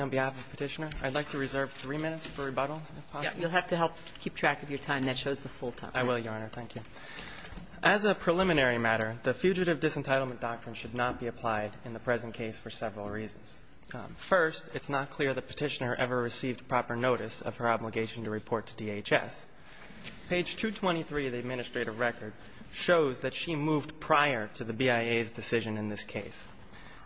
on behalf of Petitioner. I'd like to reserve three minutes for rebuttal, if possible. Yeah. You'll have to help keep track of your time. That shows the full time. I will, Your Honor. Thank you. As a preliminary matter, the Fugitive Disentitlement Doctrine should not be applied in the present case for several reasons. First, it's not clear the Petitioner ever received proper notice of her obligation to report to DHS. Page 223 of the administrative record shows that she moved prior to the BIA's decision in this case.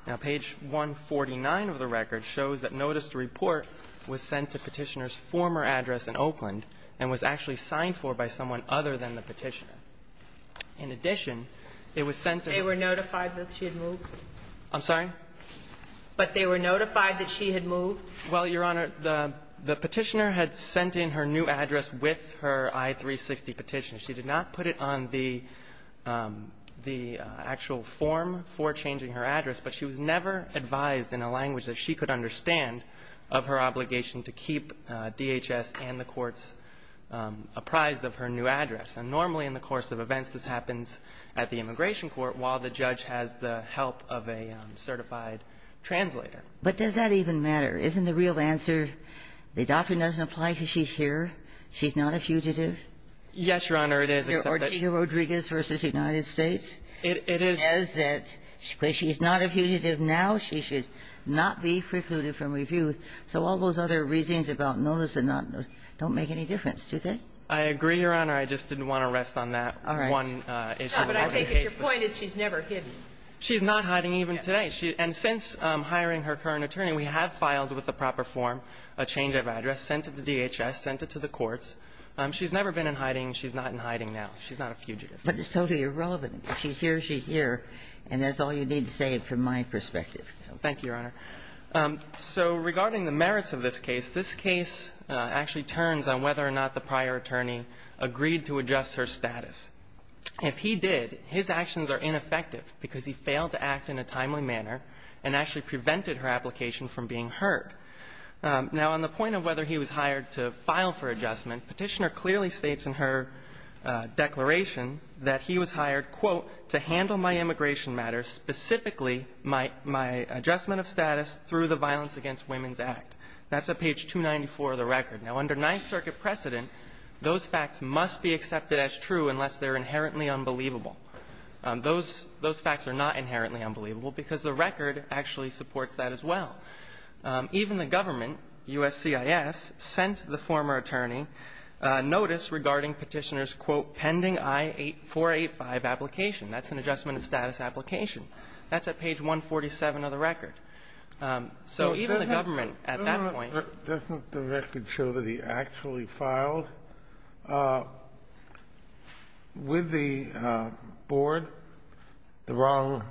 Now, page 149 of the record shows that notice to report was sent to Petitioner's former address in Oakland and was actually signed for by someone other than the Petitioner. In addition, it was sent to the ---- They were notified that she had moved? I'm sorry? But they were notified that she had moved? Well, Your Honor, the Petitioner had sent in her new address with her I-360 petition. She did not put it on the actual form for changing her address, but she was never advised in a language that she could understand of her obligation to keep DHS and the courts apprised of her new address. And normally, in the course of events, this happens at the immigration court while the judge has the help of a certified translator. But does that even matter? Isn't the real answer, the doctor doesn't apply because she's here, she's not a fugitive? Yes, Your Honor, it is, except that ---- Ortega-Rodriguez v. United States says that because she's not a fugitive now, she should not be precluded from review. So all those other reasons about notice and not notice don't make any difference, do they? I agree, Your Honor. I just didn't want to rest on that one issue. But I take it your point is she's never hidden. She's not hiding even today. And since hiring her current attorney, we have filed with the proper form a change of address, sent it to DHS, sent it to the courts. She's never been in hiding. She's not in hiding now. She's not a fugitive. But it's totally irrelevant. She's here, she's here, and that's all you need to say from my perspective. Thank you, Your Honor. So regarding the merits of this case, this case actually turns on whether or not the prior attorney agreed to adjust her status. If he did, his actions are ineffective because he failed to act in a timely manner and actually prevented her application from being heard. Now, on the point of whether he was hired to file for adjustment, Petitioner clearly states in her declaration that he was hired, quote, to handle my immigration matters, specifically my adjustment of status through the Violence Against Women's Act. That's at page 294 of the record. Now, under Ninth Circuit precedent, those facts must be accepted as true unless they're inherently unbelievable. Those facts are not inherently unbelievable because the record actually supports that as well. Even the government, USCIS, sent the former attorney notice regarding Petitioner's, quote, pending I-485 application. That's an adjustment of status application. That's at page 147 of the record. So even the government at that point --" Sotomayor, doesn't the record show that he actually filed with the board the wrong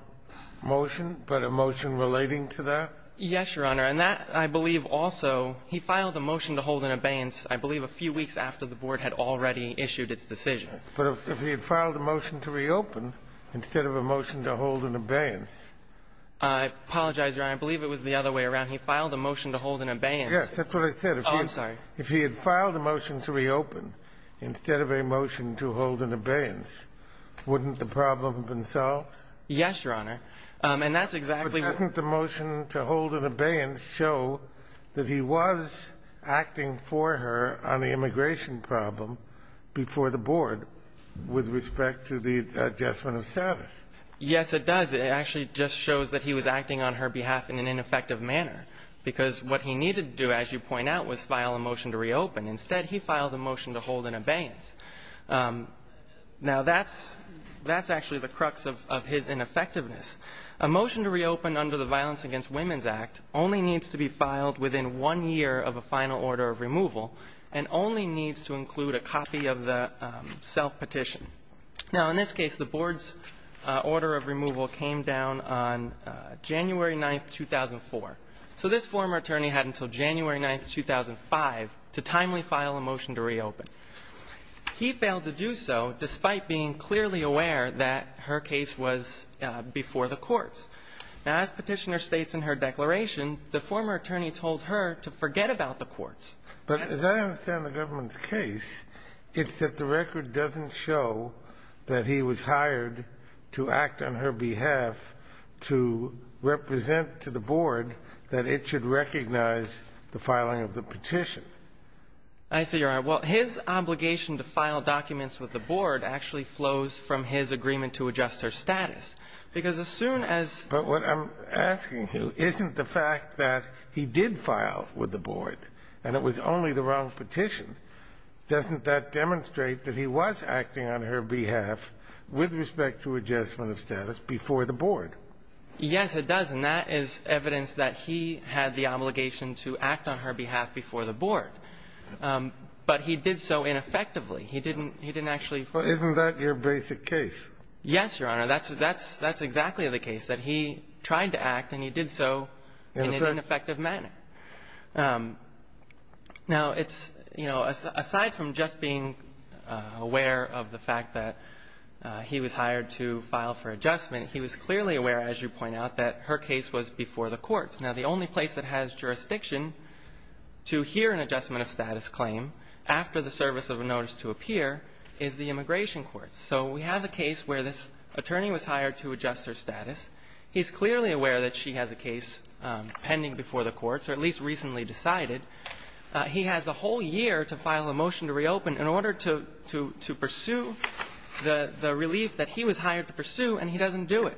motion, but a motion relating to that? Yes, Your Honor. And that, I believe, also, he filed a motion to hold an abeyance, I believe, a few weeks after the board had already issued its decision. But if he had filed a motion to reopen instead of a motion to hold an abeyance ---- I apologize, Your Honor. He filed a motion to hold an abeyance. Yes. That's what I said. Oh, I'm sorry. If he had filed a motion to reopen instead of a motion to hold an abeyance, wouldn't the problem have been solved? Yes, Your Honor. And that's exactly what the motion to hold an abeyance show that he was acting for her on the immigration problem before the board with respect to the adjustment of status. Yes, it does. It actually just shows that he was acting on her behalf in an ineffective manner, because what he needed to do, as you point out, was file a motion to reopen. Instead, he filed a motion to hold an abeyance. Now, that's actually the crux of his ineffectiveness. A motion to reopen under the Violence Against Women's Act only needs to be filed within one year of a final order of removal and only needs to include a copy of the self-petition. Now, in this case, the board's order of removal came down on January 9th, 2004. So this former attorney had until January 9th, 2005 to timely file a motion to reopen. He failed to do so despite being clearly aware that her case was before the courts. Now, as Petitioner states in her declaration, the former attorney told her to forget about the courts. But as I understand the government's case, it's that the record doesn't show that he was hired to act on her behalf to represent to the board that it should recognize the filing of the petition. I see your point. Well, his obligation to file documents with the board actually flows from his agreement to adjust her status. Because as soon as But what I'm asking you isn't the fact that he did file with the board and it was only the wrong petition. Doesn't that demonstrate that he was acting on her behalf with respect to adjustment of status before the board? Yes, it does. And that is evidence that he had the obligation to act on her behalf before the board. But he did so ineffectively. He didn't actually form the court. Isn't that your basic case? Yes, Your Honor. That's exactly the case, that he tried to act and he did so in an ineffective manner. Now, it's, you know, aside from just being aware of the fact that he was hired to file for adjustment, he was clearly aware, as you point out, that her case was before the courts. Now, the only place that has jurisdiction to hear an adjustment of status claim after the service of a notice to appear is the immigration courts. So we have a case where this attorney was hired to adjust her status. He's clearly aware that she has a case pending before the courts, or at least recently decided. He has a whole year to file a motion to reopen in order to pursue the relief that he was hired to pursue, and he doesn't do it.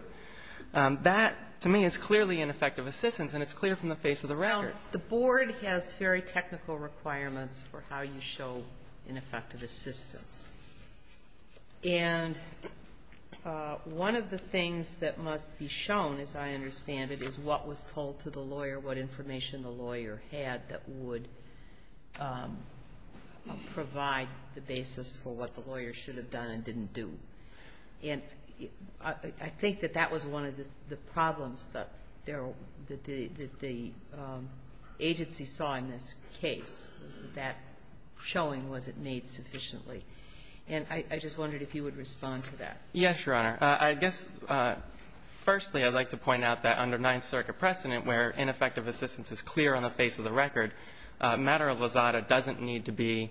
That, to me, is clearly ineffective assistance, and it's clear from the face of the record. Now, the board has very technical requirements for how you show ineffective assistance. And one of the things that must be shown, as I understand it, is what was told to the lawyer, what information the lawyer had that would provide the basis for what the lawyer should have done and didn't do. And I think that that was one of the problems that the agency saw in this case, was that that showing wasn't made sufficiently. And I just wondered if you would respond to that. Yes, Your Honor. I guess, firstly, I'd like to point out that under Ninth Circuit precedent, where ineffective assistance is clear on the face of the record, a matter of lazada doesn't need to be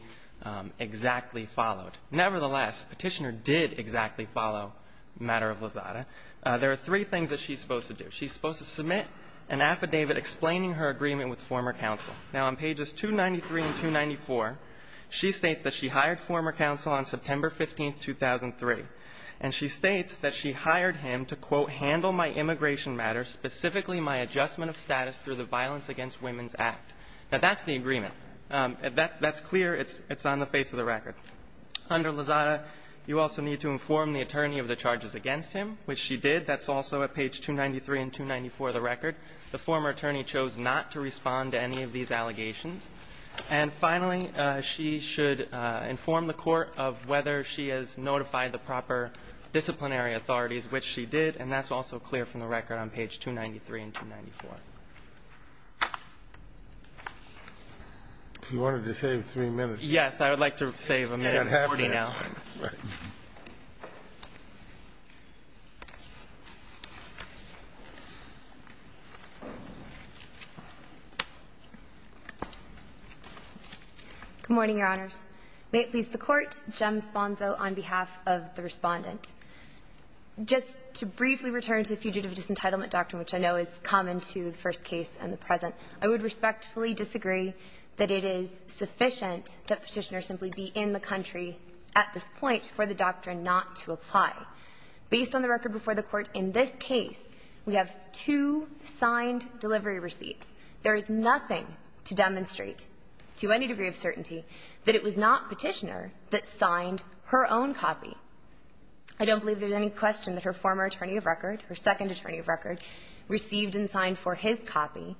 exactly followed. Nevertheless, Petitioner did exactly follow a matter of lazada. There are three things that she's supposed to do. She's supposed to submit an affidavit explaining her agreement with former counsel. Now, on pages 293 and 294, she states that she hired former counsel on September 15, 2003. And she states that she hired him to, quote, handle my immigration matters, specifically my adjustment of status through the Violence Against Women's Act. Now, that's the agreement. That's clear. It's on the face of the record. Under lazada, you also need to inform the attorney of the charges against him, which she did. That's also at page 293 and 294 of the record. The former attorney chose not to respond to any of these allegations. And finally, she should inform the Court of whether she has notified the proper disciplinary authorities, which she did, and that's also clear from the record on page 293 and 294. Kennedy. She wanted to save three minutes. Yes. I would like to save a minute and 40 now. Right. Good morning, Your Honors. May it please the Court. Jem Sponzo on behalf of the Respondent. Just to briefly return to the Fugitive Disentitlement Doctrine, which I know is common to the first case and the present, I would respectfully disagree that it is sufficient that Petitioner simply be in the country at this point for the doctrine not to apply. Based on the record before the Court in this case, we have two signed delivery receipts. There is nothing to demonstrate to any degree of certainty that it was not Petitioner that signed her own copy. I don't believe there's any question that her former attorney of record, her second attorney of record, received and signed for his copy.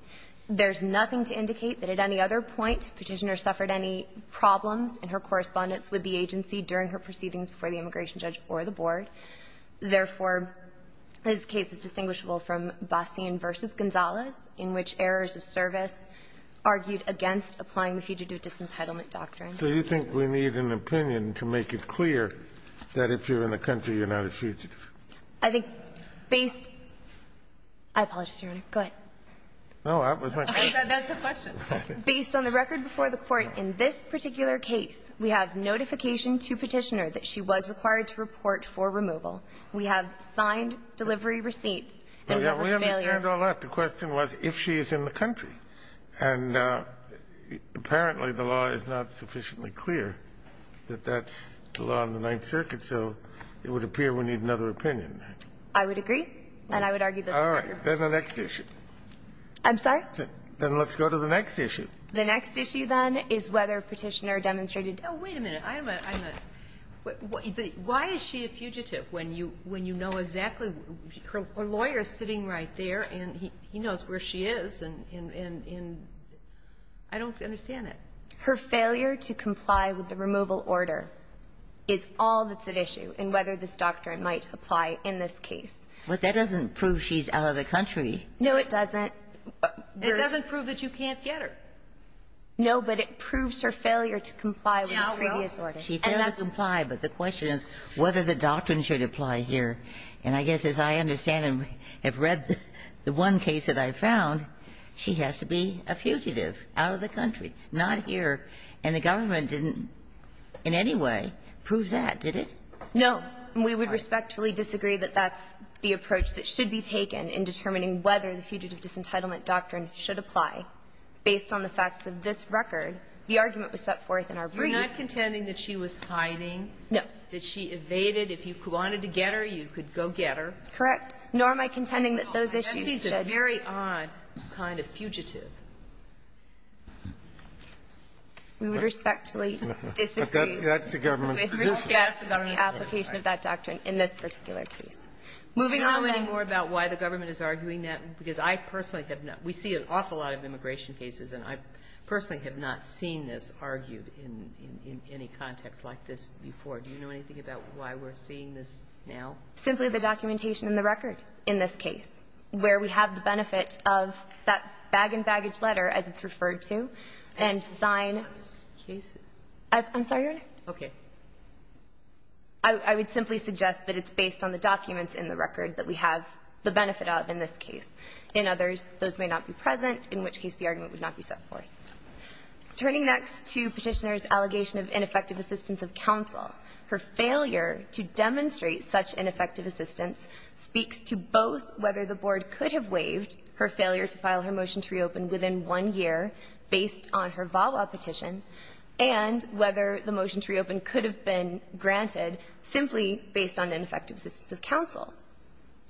There's nothing to indicate that at any other point Petitioner suffered any problems in her correspondence with the agency during her proceedings before the immigration judge or the board. Therefore, this case is distinguishable from Bassian v. Gonzalez, in which errors of service argued against applying the Fugitive Disentitlement Doctrine. So you think we need an opinion to make it clear that if you're in the country, you're not a fugitive? I think based — I apologize, Your Honor. Go ahead. No, that was my question. That's a question. Based on the record before the Court in this particular case, we have notification to Petitioner that she was required to report for removal. We have signed delivery receipts. And we have a failure. We understand all that. The question was if she is in the country. And apparently the law is not sufficiently clear that that's the law in the Ninth Circuit, so it would appear we need another opinion. I would agree. And I would argue that the record before the Court — All right. Then the next issue. I'm sorry? Then let's go to the next issue. The next issue, then, is whether Petitioner demonstrated — Oh, wait a minute. I'm a — why is she a fugitive when you know exactly — her lawyer is sitting right there, and he knows where she is, and I don't understand it. Her failure to comply with the removal order is all that's at issue in whether this doctrine might apply in this case. But that doesn't prove she's out of the country. No, it doesn't. It doesn't prove that you can't get her. No, but it proves her failure to comply with the previous order. She failed to comply, but the question is whether the doctrine should apply here. And I guess, as I understand and have read the one case that I found, she has to be a fugitive out of the country, not here. And the government didn't in any way prove that, did it? No. We would respectfully disagree that that's the approach that should be taken in determining whether the fugitive disentitlement doctrine should apply. Based on the facts of this record, the argument was set forth in our brief. You're not contending that she was hiding? No. That she evaded. If you wanted to get her, you could go get her. Correct. Nor am I contending that those issues should — That's a very odd kind of fugitive. We would respectfully disagree with respect to the application of this doctrine. We would respectfully disagree with that doctrine in this particular case. Moving on, then — Do you know any more about why the government is arguing that? Because I personally have not. We see an awful lot of immigration cases, and I personally have not seen this argued in any context like this before. Do you know anything about why we're seeing this now? Simply the documentation in the record in this case, where we have the benefit of that bag-in-baggage letter, as it's referred to, and sign — I'm sorry, Your Honor. Okay. I would simply suggest that it's based on the documents in the record that we have the benefit of in this case. In others, those may not be present, in which case the argument would not be set forth. Turning next to Petitioner's allegation of ineffective assistance of counsel, her failure to demonstrate such ineffective assistance speaks to both whether the Board could have waived her failure to file her motion to reopen within one year based on her VAWA petition, and whether the motion to reopen could have been granted simply based on ineffective assistance of counsel.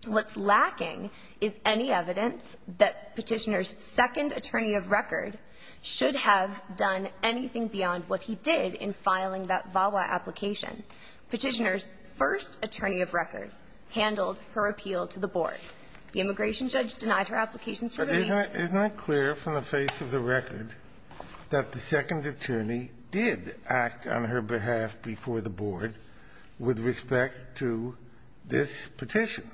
What's lacking is any evidence that Petitioner's second attorney of record should have done anything beyond what he did in filing that VAWA application. Petitioner's first attorney of record handled her appeal to the Board. The immigration judge denied her applications for waiving. Isn't it clear from the face of the record that the second attorney did act on her behalf before the Board with respect to this petition,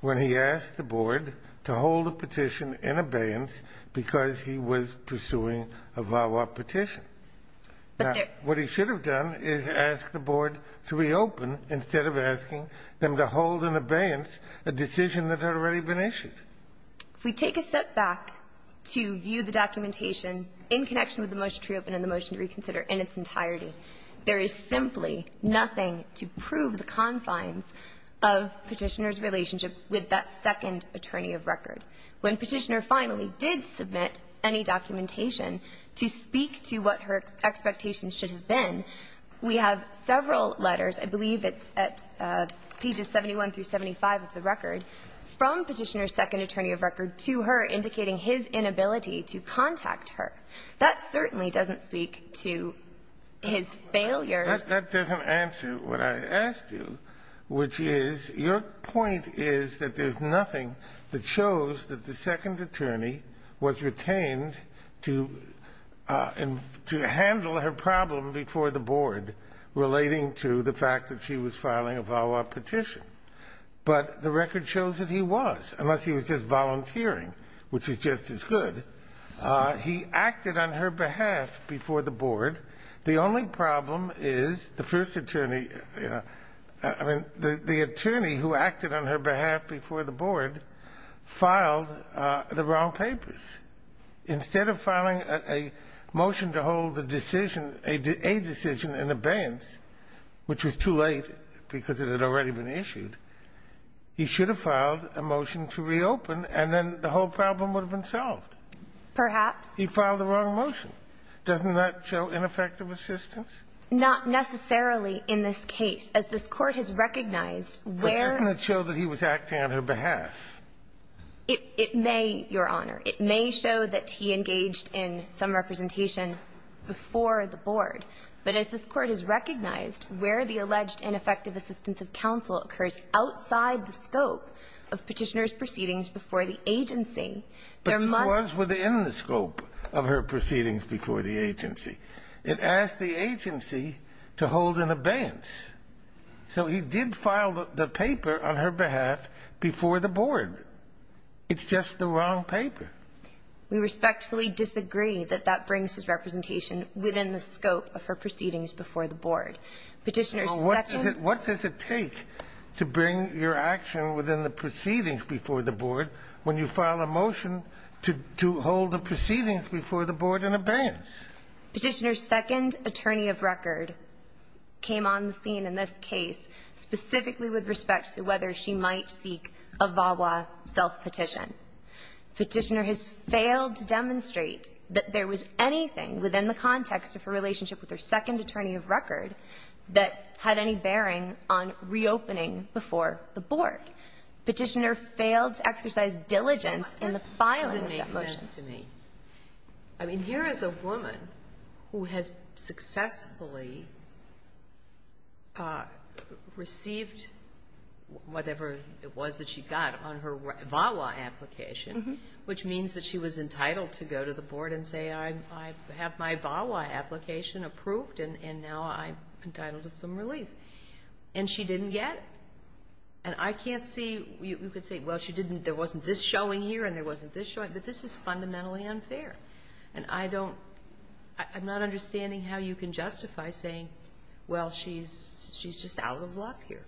when he asked the Board to hold the petition in abeyance because he was pursuing a VAWA petition? But there — What he should have done is asked the Board to reopen instead of asking them to hold If we take a step back to view the documentation in connection with the motion to reopen and the motion to reconsider in its entirety, there is simply nothing to prove the confines of Petitioner's relationship with that second attorney of record. When Petitioner finally did submit any documentation to speak to what her expectations should have been, we have several letters — I believe it's at pages 71 through 75 of the record — from Petitioner's second attorney of record to her, indicating his inability to contact her. That certainly doesn't speak to his failures. That doesn't answer what I asked you, which is, your point is that there's nothing that shows that the second attorney was retained to handle her problem before the Board relating to the fact that she was filing a VAWA petition. But the record shows that he was, unless he was just volunteering, which is just as good. He acted on her behalf before the Board. The only problem is the first attorney — I mean, the attorney who acted on her behalf before the Board filed the wrong papers. Instead of filing a motion to hold the decision — a decision in abeyance, which was too late because it had already been issued — he should have filed a motion to reopen, and then the whole problem would have been solved. Perhaps. He filed the wrong motion. Doesn't that show ineffective assistance? Not necessarily in this case. As this Court has recognized where — But doesn't it show that he was acting on her behalf? It may, Your Honor. It may show that he engaged in some representation before the Board. But as this Court has recognized where the alleged ineffective assistance of counsel occurs outside the scope of Petitioner's proceedings before the agency, there must — But this was within the scope of her proceedings before the agency. It asked the agency to hold an abeyance. So he did file the paper on her behalf before the Board. It's just the wrong paper. We respectfully disagree that that brings his representation within the scope of her proceedings before the Board. Petitioner's second — Well, what does it take to bring your action within the proceedings before the Board when you file a motion to hold the proceedings before the Board in abeyance? Petitioner's second attorney of record came on the scene in this case specifically with respect to whether she might seek a VAWA self-petition. Petitioner has failed to demonstrate that there was anything within the context of her relationship with her second attorney of record that had any bearing on reopening before the Board. Petitioner failed to exercise diligence in the filing of that motion. Well, what doesn't make sense to me? I mean, here is a woman who has successfully received whatever it was that she got on her VAWA application, which means that she was entitled to go to the Board and say, I have my VAWA application approved, and now I'm entitled to some relief. And she didn't get it. And I can't see — you could say, well, she didn't — there wasn't this showing here and there wasn't this showing, but this is fundamentally unfair. And I don't — I'm not understanding how you can justify saying, well, she's just out of luck here.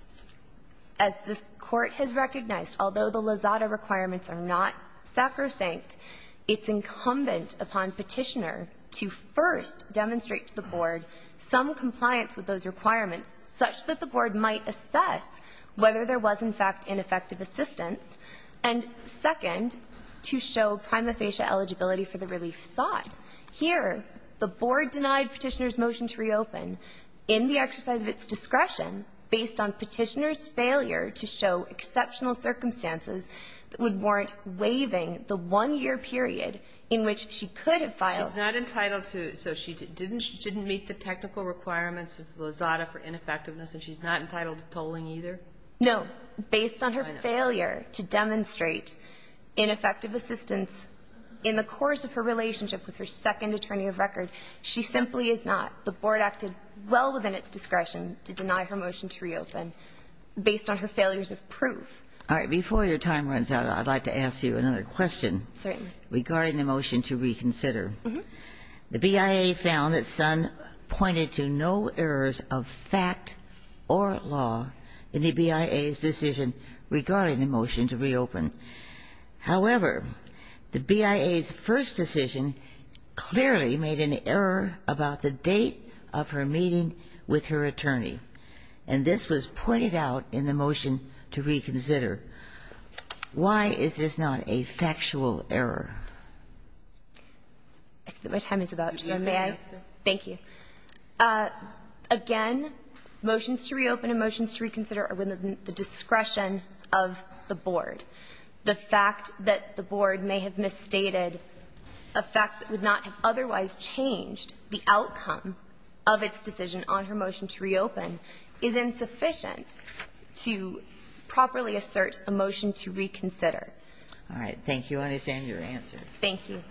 As this Court has recognized, although the Lozada requirements are not sacrosanct, it's incumbent upon Petitioner to first demonstrate to the Board some compliance with those requirements such that the Board might assess whether there was, in fact, ineffective assistance, and second, to show prima facie eligibility for the relief sought. Here, the Board denied Petitioner's motion to reopen in the exercise of its discretion based on Petitioner's failure to show exceptional circumstances that would warrant waiving the one-year period in which she could have filed. She's not entitled to — so she didn't — she didn't meet the technical requirements of Lozada for ineffectiveness, and she's not entitled to tolling either? No. Based on her failure to demonstrate ineffective assistance in the course of her relationship with her second attorney of record, she simply is not. The Board acted well within its discretion to deny her motion to reopen based on her failures of proof. All right. Before your time runs out, I'd like to ask you another question. Certainly. Regarding the motion to reconsider. Mm-hmm. The BIA found that Sun pointed to no errors of fact or law in the BIA's decision regarding the motion to reopen. However, the BIA's first decision clearly made an error about the date of her meeting with her attorney. And this was pointed out in the motion to reconsider. Why is this not a factual error? I see that my time is about to run out. Do you have an answer? Thank you. Again, motions to reopen and motions to reconsider are within the discretion of the Board. The fact that the Board may have misstated a fact that would not have otherwise changed the outcome of its decision on her motion to reopen is insufficient to properly assert a motion to reconsider. All right. Thank you. I understand your answer. Thank you.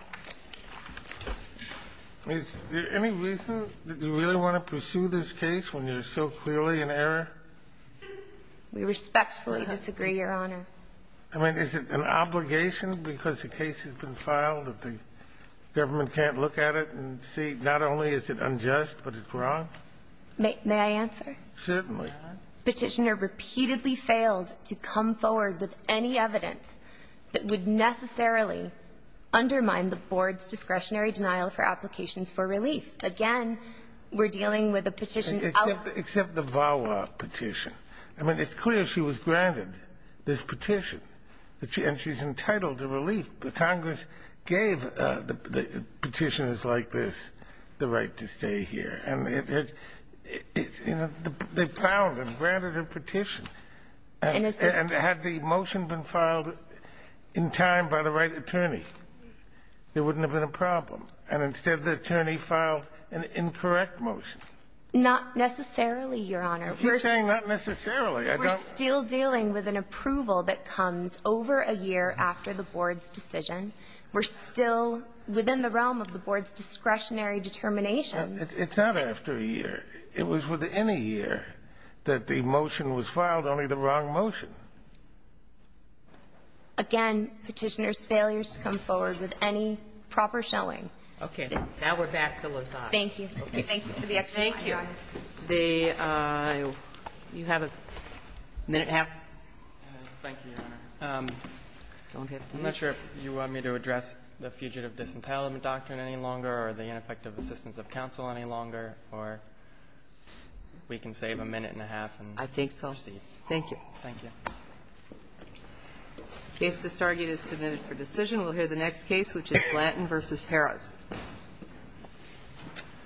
Is there any reason that you really want to pursue this case when there's so clearly an error? We respectfully disagree, Your Honor. I mean, is it an obligation because the case has been filed that the government can't look at it and see? Not only is it unjust, but it's wrong? May I answer? Certainly. Petitioner repeatedly failed to come forward with any evidence that would necessarily undermine the Board's discretionary denial for applications for relief. Again, we're dealing with a petition. Except the VAWA petition. I mean, it's clear she was granted this petition. And she's entitled to relief. But Congress gave the petitioners like this the right to stay here. And, you know, they filed and granted a petition. And had the motion been filed in time by the right attorney, there wouldn't have been a problem. And instead, the attorney filed an incorrect motion. Not necessarily, Your Honor. You're saying not necessarily. We're still dealing with an approval that comes over a year after the Board's decision. We're still within the realm of the Board's discretionary determination. It's not after a year. It was within a year that the motion was filed, only the wrong motion. Again, petitioner's failures to come forward with any proper showing. Okay. Now we're back to Lazada. Thank you. Thank you for the explanation, Your Honor. Thank you. Do you have a minute and a half? Thank you, Your Honor. I'm not sure if you want me to address the fugitive disentitlement doctrine any longer or the ineffective assistance of counsel any longer. Or we can save a minute and a half and proceed. I think so. Thank you. Thank you. The case to start is submitted for decision. We'll hear the next case, which is Blanton v. Harris.